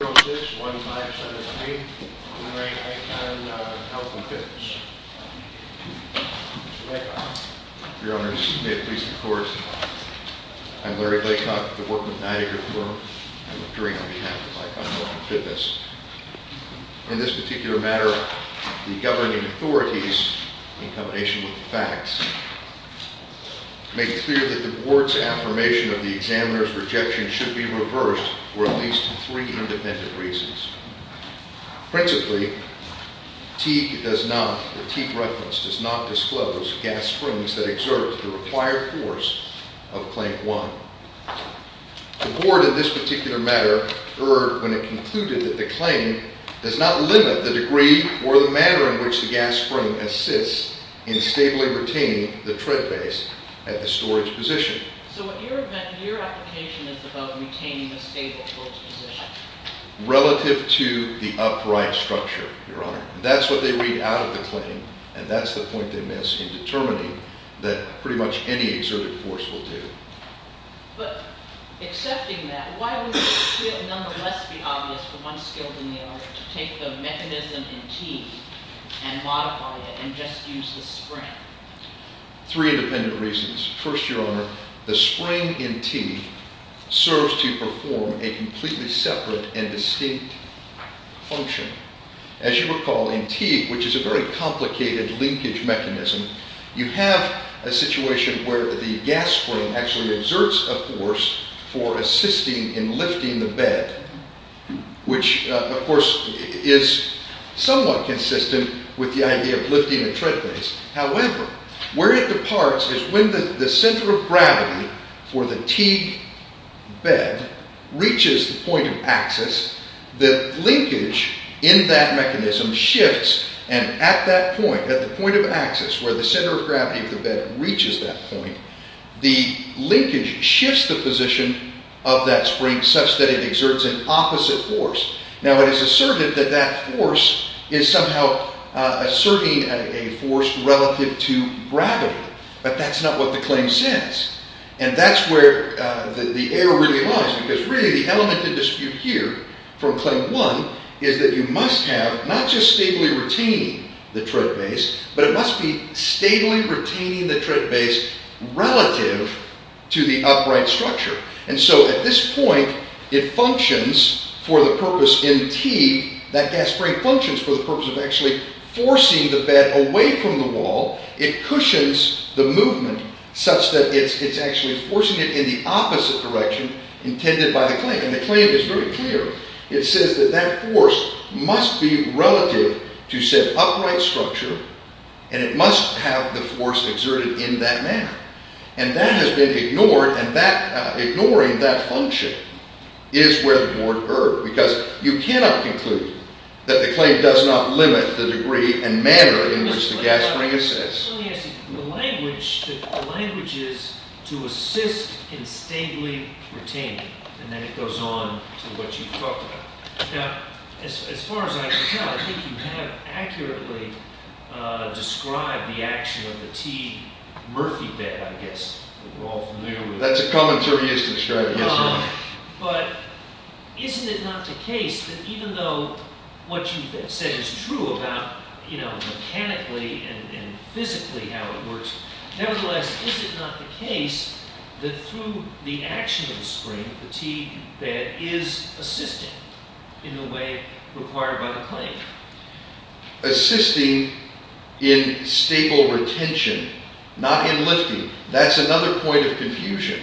061573, Re Icon Health and Fitness. Mr. Laycock. Your Honors, may it please the court. I'm Larry Laycock, the workman at Niagara Floor. I'm appearing on behalf of Icon Health and Fitness. In this particular matter, the governing authorities, in combination with the facts, make it clear that the board's affirmation of the examiner's rejection should be reversed. For at least three independent reasons. Principally, Teague does not, or Teague reference does not disclose gas springs that exert the required force of claim one. The board in this particular matter heard when it concluded that the claim does not limit the degree or the manner in which the gas spring assists in stably retaining the tread base at the storage position. So your application is about retaining the stable post position. Relative to the upright structure, Your Honor. That's what they read out of the claim, and that's the point they miss in determining that pretty much any exerted force will do. But accepting that, why would it nonetheless be obvious for one skilled in the area to take the mechanism in Teague and modify it and just use the spring? Three independent reasons. First, Your Honor, the spring in Teague serves to perform a completely separate and distinct function. As you recall, in Teague, which is a very complicated linkage mechanism, you have a situation where the gas spring actually exerts a force for assisting in lifting the bed, which, of course, is somewhat consistent with the idea of lifting a tread base. However, where it departs is when the center of gravity for the Teague bed reaches the point of axis, the linkage in that mechanism shifts, and at that point, at the point of axis where the center of gravity of the bed reaches that point, the linkage shifts the position of that spring such that it exerts an opposite force. Now, it is asserted that that force is somehow asserting a force relative to gravity, but that's not what the claim says. And that's where the error really lies, because really, the element of dispute here from claim one is that you must have not just stably retaining the tread base, but it must be stably retaining the tread base relative to the upright structure. And so at this point, it functions for the purpose in Teague, that gas spring functions for the purpose of actually forcing the bed away from the wall, it cushions the movement such that it's actually forcing it in the opposite direction intended by the claim, and the claim is very clear. It says that that force must be relative to said upright structure, and it must have the force exerted in that manner. And that has been ignored, and ignoring that function is where the board erred, because you cannot conclude that the claim does not limit the degree and manner in which the gas spring assists. Let me ask you, the language is to assist in stably retaining, and then it goes on to what you've talked about. Now, as far as I can tell, I think you have accurately described the action of the Teague Murphy bed, I guess, that we're all familiar with. That's a commentary I should describe, yes. But isn't it not the case that even though what you said is true about, you know, mechanically and physically how it works, nevertheless, is it not the case that through the action of the spring, the Teague bed is assisting in the way required by the claim? Assisting in stable retention, not in lifting, that's another point of confusion.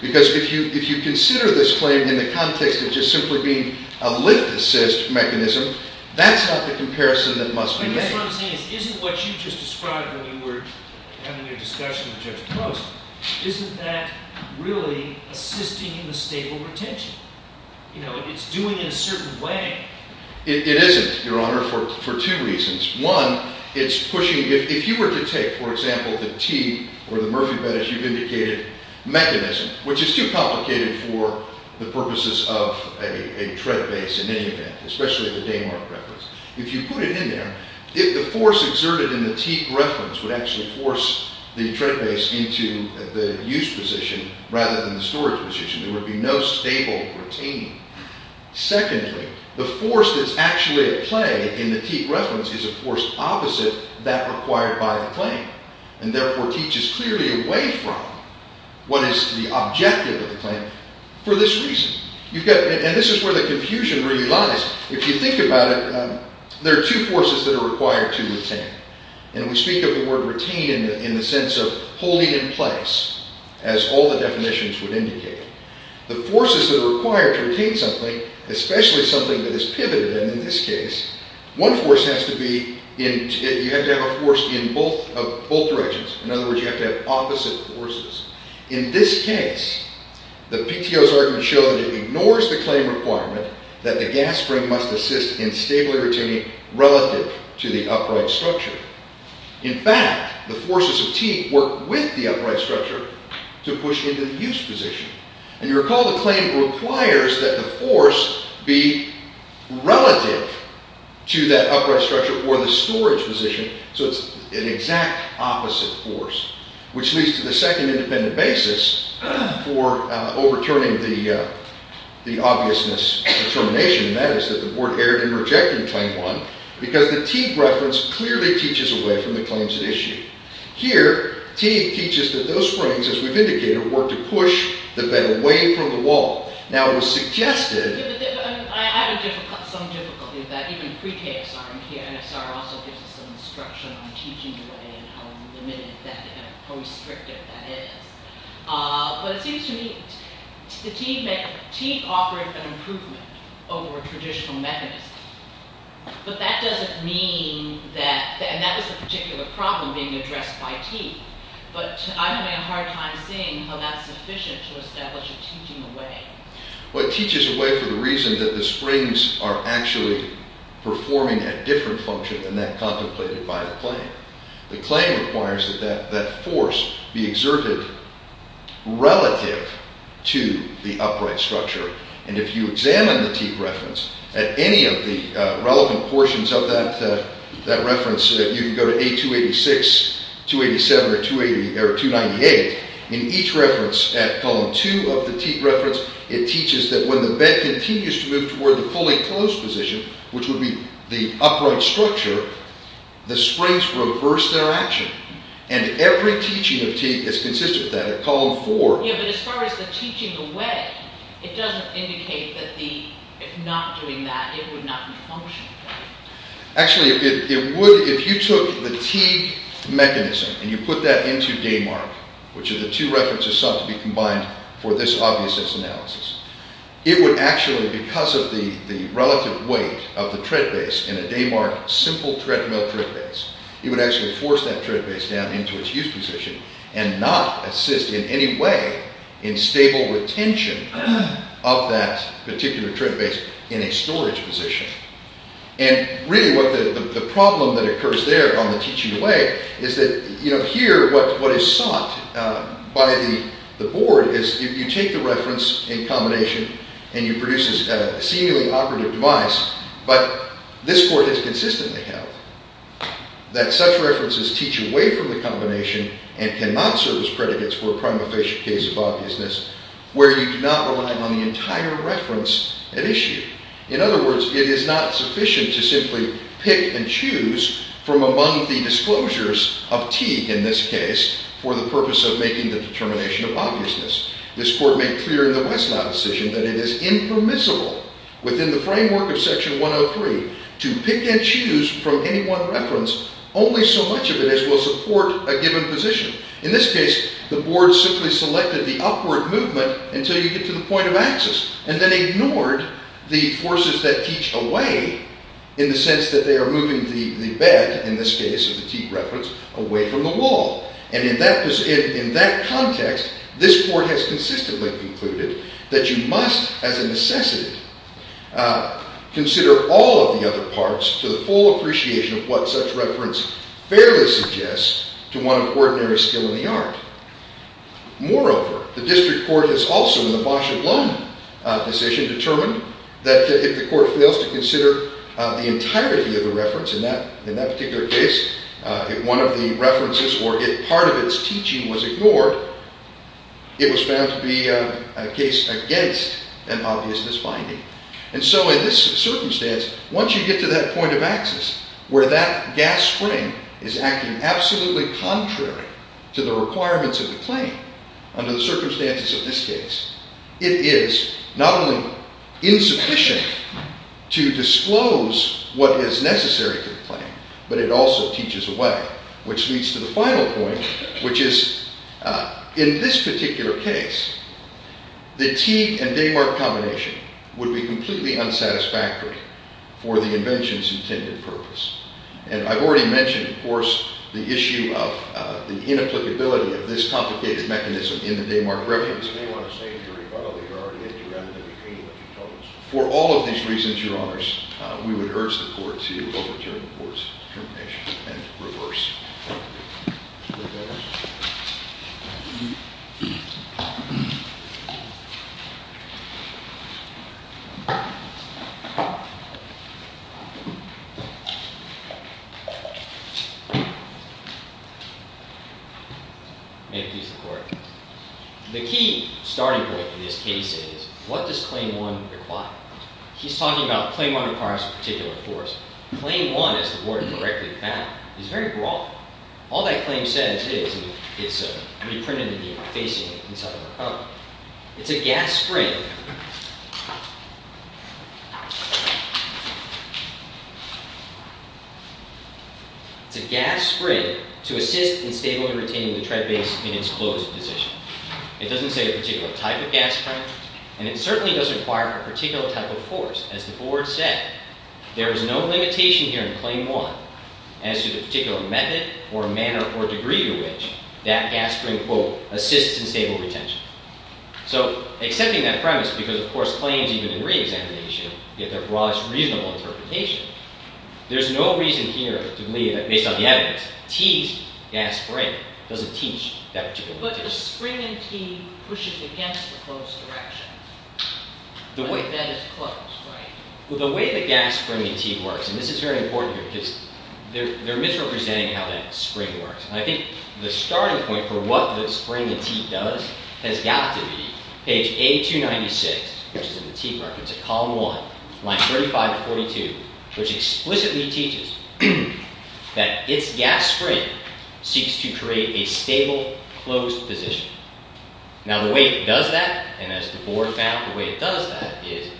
Because if you consider this claim in the context of just simply being a lift-assist mechanism, that's not the comparison that must be made. I guess what I'm saying is, isn't what you just described when we were having a discussion with Judge Post, isn't that really assisting in the stable retention? You know, it's doing it a certain way. It isn't, Your Honour, for two reasons. One, it's pushing... If you were to take, for example, the Teague or the Murphy bed, as you've indicated, mechanism, which is too complicated for the purposes of a tread base in any event, especially the Damark reference. If you put it in there, the force exerted in the Teague reference would actually force the tread base into the use position rather than the storage position. There would be no stable retaining. Secondly, the force that's actually at play in the Teague reference is a force opposite that required by the claim, and therefore teaches clearly away from what is the objective of the claim for this reason. And this is where the confusion really lies. If you think about it, there are two forces that are required to retain. And we speak of the word retain in the sense of holding in place, as all the definitions would indicate. The forces that are required to retain something, especially something that is pivoted, and in this case, one force has to be... You have to have a force in both directions. In other words, you have to have opposite forces. In this case, the PTO's argument shows that it ignores the claim requirement that the gas spring must assist in stable retaining relative to the upright structure. In fact, the forces of Teague work with the upright structure to push into the use position. And you recall the claim requires that the force be relative to that upright structure or the storage position, so it's an exact opposite force, which leads to the second independent basis for overturning the obviousness determination, and that is that the board erred in rejecting claim one because the Teague reference clearly teaches away from the claims at issue. Here, Teague teaches that those springs, as we've indicated, work to push the bed away from the wall. Now, it was suggested... Yeah, but I have some difficulty with that. Even pre-KSR and PNSR also gives us some instruction on teaching the way and how limited that is, how restrictive that is. But it seems to me Teague offered an improvement over a traditional mechanism, but that doesn't mean that... But I'm having a hard time seeing how that's sufficient to establish a teaching away. Well, it teaches away for the reason that the springs are actually performing a different function than that contemplated by the claim. The claim requires that that force be exerted relative to the upright structure. And if you examine the Teague reference at any of the relevant portions of that reference, you can go to A286, 287, or 298, in each reference at column two of the Teague reference, it teaches that when the bed continues to move toward the fully closed position, which would be the upright structure, the springs reverse their action. And every teaching of Teague is consistent with that at column four. Yeah, but as far as the teaching away, it doesn't indicate that if not doing that, it would not be functional. Actually, it would if you took the Teague mechanism and you put that into Damark, which are the two references sought to be combined for this obviousness analysis. It would actually, because of the relative weight of the tread base in a Damark simple treadmill tread base, it would actually force that tread base down into its used position and not assist in any way in stable retention of that particular tread base in a storage position. And really what the problem that occurs there on the teaching away is that, you know, here what is sought by the board is if you take the reference in combination and you produce a seemingly operative device, but this court has consistently held that such references teach away from the combination and cannot serve as predicates for a prima facie case of obviousness, where you do not rely on the entire reference at issue. In other words, it is not sufficient to simply pick and choose from among the disclosures of Teague in this case, for the purpose of making the determination of obviousness. This court made clear in the Westlap decision that it is impermissible within the framework of section 103 to pick and choose from any one reference, only so much of it as will support a given position. In this case, the board simply selected the upward movement until you get to the point of access and then ignored the forces that teach away in the sense that they are moving the bed, in this case of the Teague reference, away from the wall. And in that context, this court has consistently concluded that you must as a necessity consider all of the other parts to the full appreciation of what such reference fairly suggests to one of ordinary skill in the art. Moreover, the district court has also, in the Bosch and Blum decision, determined that if the court fails to consider the entirety of the reference in that particular case, if one of the references or if part of its teaching was ignored, it was found to be a case against an obviousness finding. And so in this circumstance, once you get to that point of access where that gas spring is acting absolutely contrary to the requirements of the claim, under the circumstances of this case, it is not only insufficient to disclose what is necessary to the claim, but it also teaches away, which leads to the final point, which is in this particular case, the Teague and Damark combination would be completely unsatisfactory for the invention's intended purpose. And I've already mentioned, of course, the issue of the inapplicability of this complicated mechanism in the Damark reference. If you want to say in your rebuttal that you're already at your end, then you can, but you don't. For all of these reasons, your honors, we would urge the court to overturn the court's determination and reverse. May it please the court. The key starting point for this case is, what does Claim 1 require? He's talking about Claim 1 requires a particular force. Claim 1, as the warden directly found, is very broad. All that claim says is, it's reprinted in the facing inside of a cup. It's a gas spring. It's a gas spring to assist in stably retaining the tread base in its closed position. It doesn't say a particular type of gas spring, and it certainly doesn't require a particular type of force. As the board said, there is no limitation here in Claim 1 as to the particular method or manner or degree to which that gas spring, quote, assists in stable retention. So, accepting that premise, because of course, claims even in re-examination get their broadest reasonable interpretation, there's no reason here to believe that, based on the evidence, T's gas spring doesn't teach that particular case. But the spring in T pushes against the closed direction. The way that is closed, right? Well, the way the gas spring in T works, and this is very important here, because they're misrepresenting how that spring works. I think the starting point for what the spring in T does has got to be page A296, which is in the T reference, at column one, line 35 to 42, which explicitly teaches that its gas spring seeks to create a stable, closed position. Now, the way it does that, and as the board found, the way it does that is,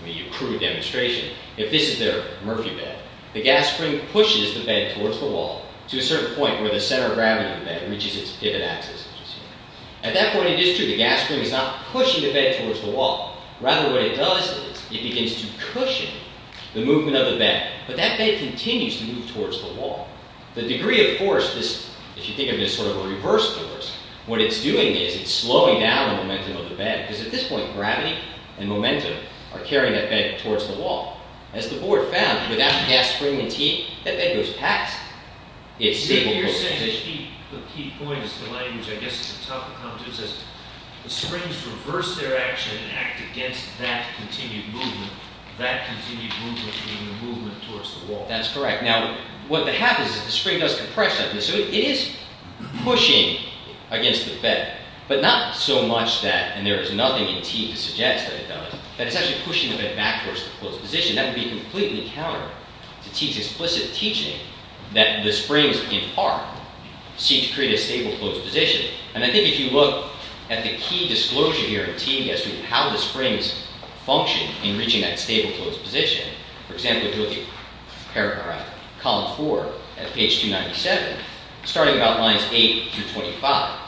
I mean, a crude demonstration, if this is their Murphy bed, the gas spring pushes the bed towards the wall to a certain point where the center of gravity of the bed reaches its pivot axis. At that point, it is true, the gas spring is not pushing the bed towards the wall. Rather, what it does is, it begins to cushion the movement of the bed. But that bed continues to move towards the wall. The degree of force, if you think of it as sort of a reverse force, what it's doing is, it's slowing down the momentum of the bed, because at this point, gravity and momentum are carrying that bed towards the wall. As the board found, without the gas spring in T, that bed goes past its stable position. The key point is the language, I guess, at the top of the commentaries is, the springs reverse their action and act against that continued movement, that continued movement being the movement towards the wall. That's correct. Now, what happens is, the spring does compression. So, it is pushing against the bed, but not so much that, and there is nothing in T to suggest that it does, that it's actually pushing the bed backwards to a closed position. That would be completely counter to T's explicit teaching that the springs, in part, seek to create a stable, closed position. And I think if you look at the key disclosure here in T, as to how the springs function in reaching that stable, closed position, for example, if you look at paragraph, column four, at page 297, starting about lines eight through 25,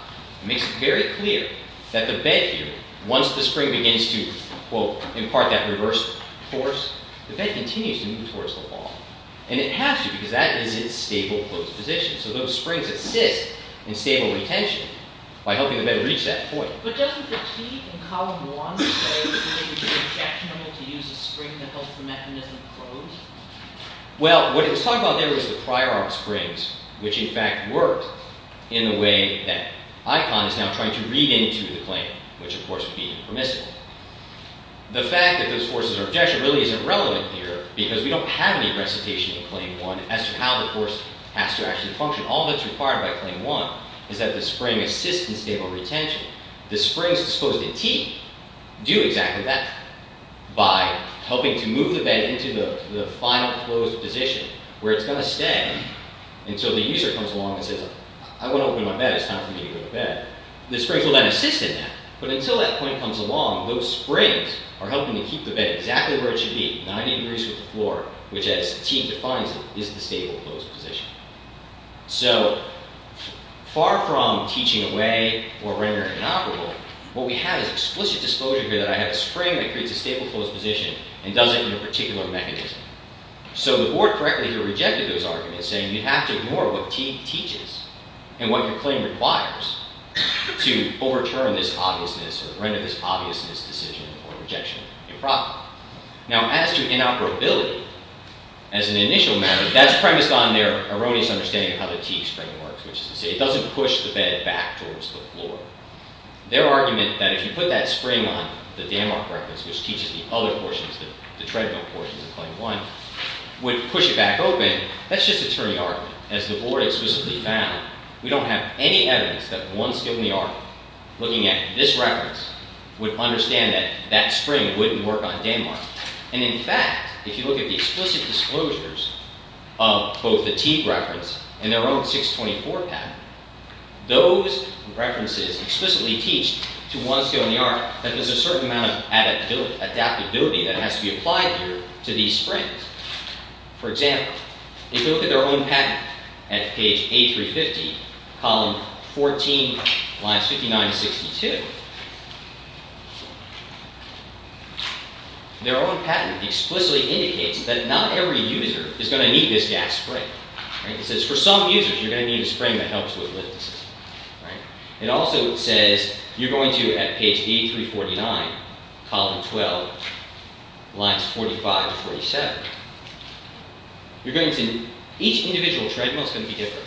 it makes it very clear that the bed here, once the spring begins to, quote, impart that reverse force, the bed continues to move towards the wall. And it has to, because that is its stable, closed position. So, those springs assist in stable retention by helping the bed reach that point. But doesn't the T in column one say that it would be objectionable to use a spring that helps the mechanism close? Well, what it was talking about there was the prior arm springs, which, in fact, worked in the way that Icahn is now trying to read into the claim, which, of course, would be impermissible. The fact that those forces are objectionable really isn't relevant here because we don't have any recitation in claim one as to how the force has to actually function. All that's required by claim one is that the spring assists in stable retention. The springs disposed in T do exactly that by helping to move the bed into the final, closed position where it's gonna stay until the user comes along and says, I wanna open my bed, it's time for me to go to bed. The springs will then assist in that. But until that point comes along, those springs are helping to keep the bed exactly where it should be, 90 degrees from the floor, which, as T defines it, is the stable, closed position. So far from teaching away or rendering it inoperable, what we have is explicit disclosure here that I have a spring that creates a stable, closed position and does it in a particular mechanism. So the board correctly here rejected those arguments, saying you'd have to ignore what T teaches and what your claim requires to overturn this obviousness or render this obviousness decision or rejection improper. Now, as to inoperability, as an initial matter, that's premised on their erroneous understanding of how the T spring works, which is to say it doesn't push the bed back towards the floor. Their argument that if you put that spring on the Danmark reference, which teaches the other portions, the treadmill portions of claim one, would push it back open, that's just a terry argument. As the board explicitly found, we don't have any evidence that once given the argument, looking at this reference, would understand that that spring wouldn't work on Danmark. And in fact, if you look at the explicit disclosures of both the T reference and their own 624 patent, those references explicitly teach to one scale in the art that there's a certain amount of adaptability that has to be applied here to these springs. For example, if you look at their own patent at page A350, column 14, lines 59 to 62, their own patent explicitly indicates that not every user is gonna need this gas spring. It says for some users, you're gonna need a spring that helps with lift assistance. It also says you're going to, at page A349, column 12, lines 45 to 47, you're going to, each individual treadmill is gonna be different.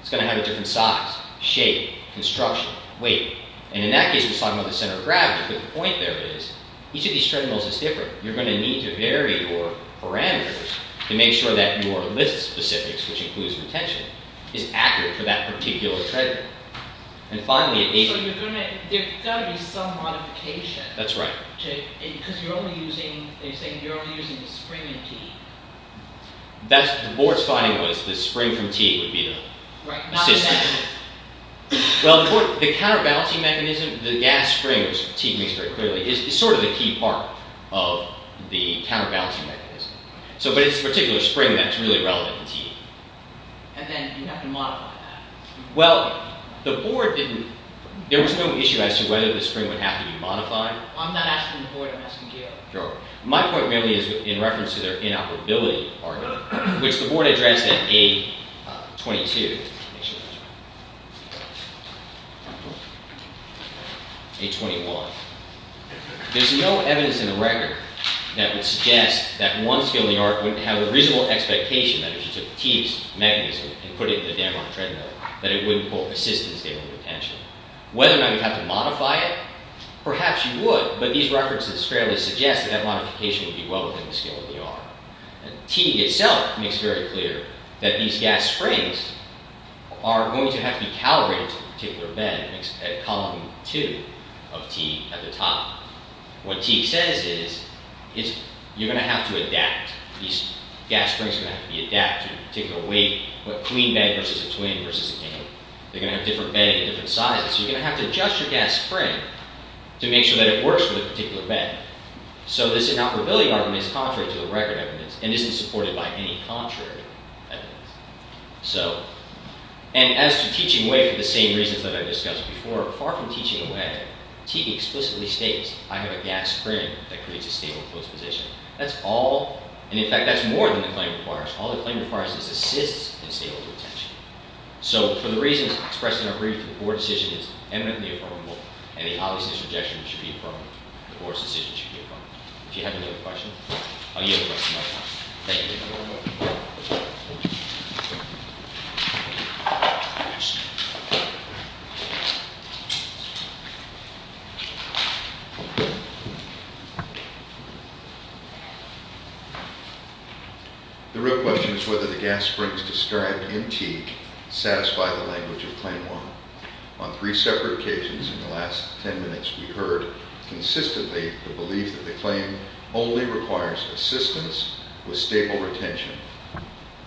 It's gonna have a different size, shape, construction, weight, and in that case, we're talking about the center of gravity, but the point there is, each of these treadmills is different, you're gonna need to vary your parameters to make sure that your list specifics, which includes retention, is accurate for that particular treadmill. And finally, at page- That's right. Because you're only using, they're saying the spring from T. That's, the board's finding was the spring from T would be the- Right, not the- Assistant. Well, the point, the counterbalancing mechanism, the gas spring, which T makes very clearly, is sort of the key part of the counterbalancing mechanism. So, but it's a particular spring that's really relevant to T. And then, you'd have to modify that. Well, the board didn't, there was no issue as to whether the spring would have to be modified. I'm not asking the board, I'm asking DO. Sure. My point really is in reference to their inoperability argument, which the board addressed at A-22. A-21. There's no evidence in the record that would suggest that one skill in the art would have a reasonable expectation that if you took T's mechanism and put it in the dam on a treadmill, that it wouldn't, quote, assist in stable retention. Whether or not you'd have to modify it, perhaps you would, but these references fairly suggest that that modification would be well within the skill of the art. T itself makes very clear that these gas springs are going to have to be calibrated to a particular bed, at column two of T at the top. What T says is, you're gonna have to adapt. These gas springs are gonna have to be adapted to a particular weight, what queen bed versus a twin versus a king. They're gonna have different bedding and different sizes. So you're gonna have to adjust your gas spring to make sure that it works for the particular bed. So this inoperability argument is contrary to the record evidence and isn't supported by any contrary evidence. So, and as to teaching away for the same reasons that I've discussed before, far from teaching away, T explicitly states, I have a gas spring that creates a stable closed position. That's all, and in fact, that's more than the claim requires. All the claim requires is assists in stable retention. So for the reasons expressed in our brief, the board decision is eminently affirmable and the obviousness objection should be affirmed. The board's decision should be affirmed. If you have any other questions, I'll yield the rest of my time. Thank you. The real question is whether the gas springs described in T satisfy the language of claim one. On three separate occasions in the last 10 minutes, we heard consistently the belief that the claim only requires assistance with stable retention.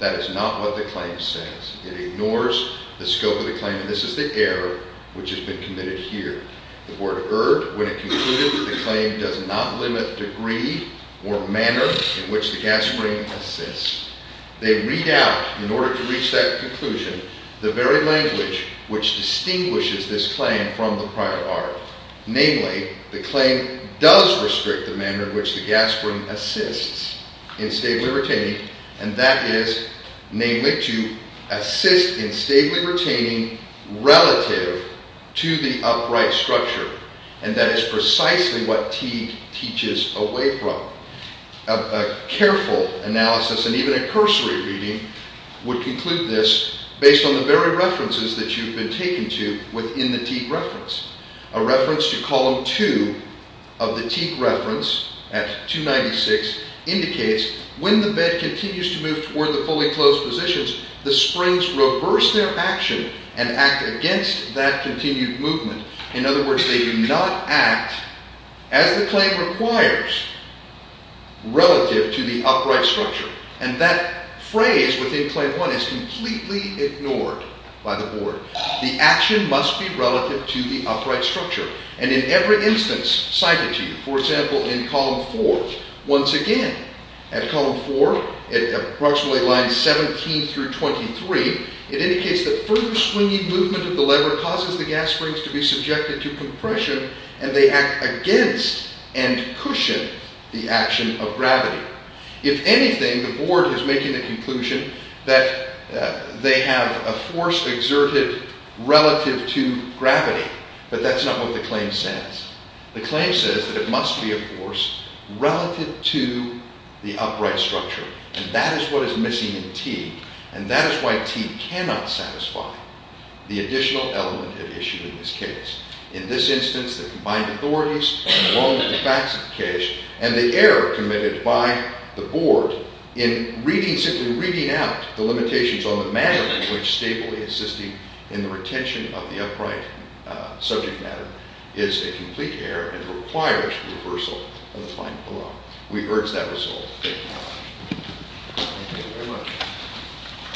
That is not what the claim says. It ignores the scope of the claim, and this is the error which has been committed here. The board heard when it concluded that the claim does not limit degree or manner in which the gas spring assists. They read out, in order to reach that conclusion, the very language which distinguishes this claim from the prior bar. Namely, the claim does restrict the manner in which the gas spring assists in stable retaining, and that is namely to assist in stable retaining relative to the upright structure, and that is precisely what Teague teaches away from. A careful analysis, and even a cursory reading, would conclude this based on the very references that you've been taken to within the Teague reference. A reference to column two of the Teague reference at 296 indicates when the bed continues to move toward the fully closed positions, the springs reverse their action and act against that continued movement. In other words, they do not act as the claim requires relative to the upright structure, and that phrase within claim one is completely ignored by the board. The action must be relative to the upright structure, and in every instance cited to you, for example, in column four, once again, at column four, at approximately lines 17 through 23, it indicates that further swinging movement of the lever causes the gas springs to be subjected to compression, and they act against and cushion the action of gravity. If anything, the board is making the conclusion that they have a force exerted relative to gravity, but that's not what the claim says. The claim says that it must be a force relative to the upright structure, and that is what is missing in Teague, and that is why Teague cannot satisfy the additional element at issue in this case. In this instance, the combined authorities are wrong in the facts of the case, and the error committed by the board in reading, simply reading out the limitations on the manner in which Staple is assisting in the retention of the upright subject matter is a complete error, and requires reversal of the final law. We urge that resolved. Thank you very much.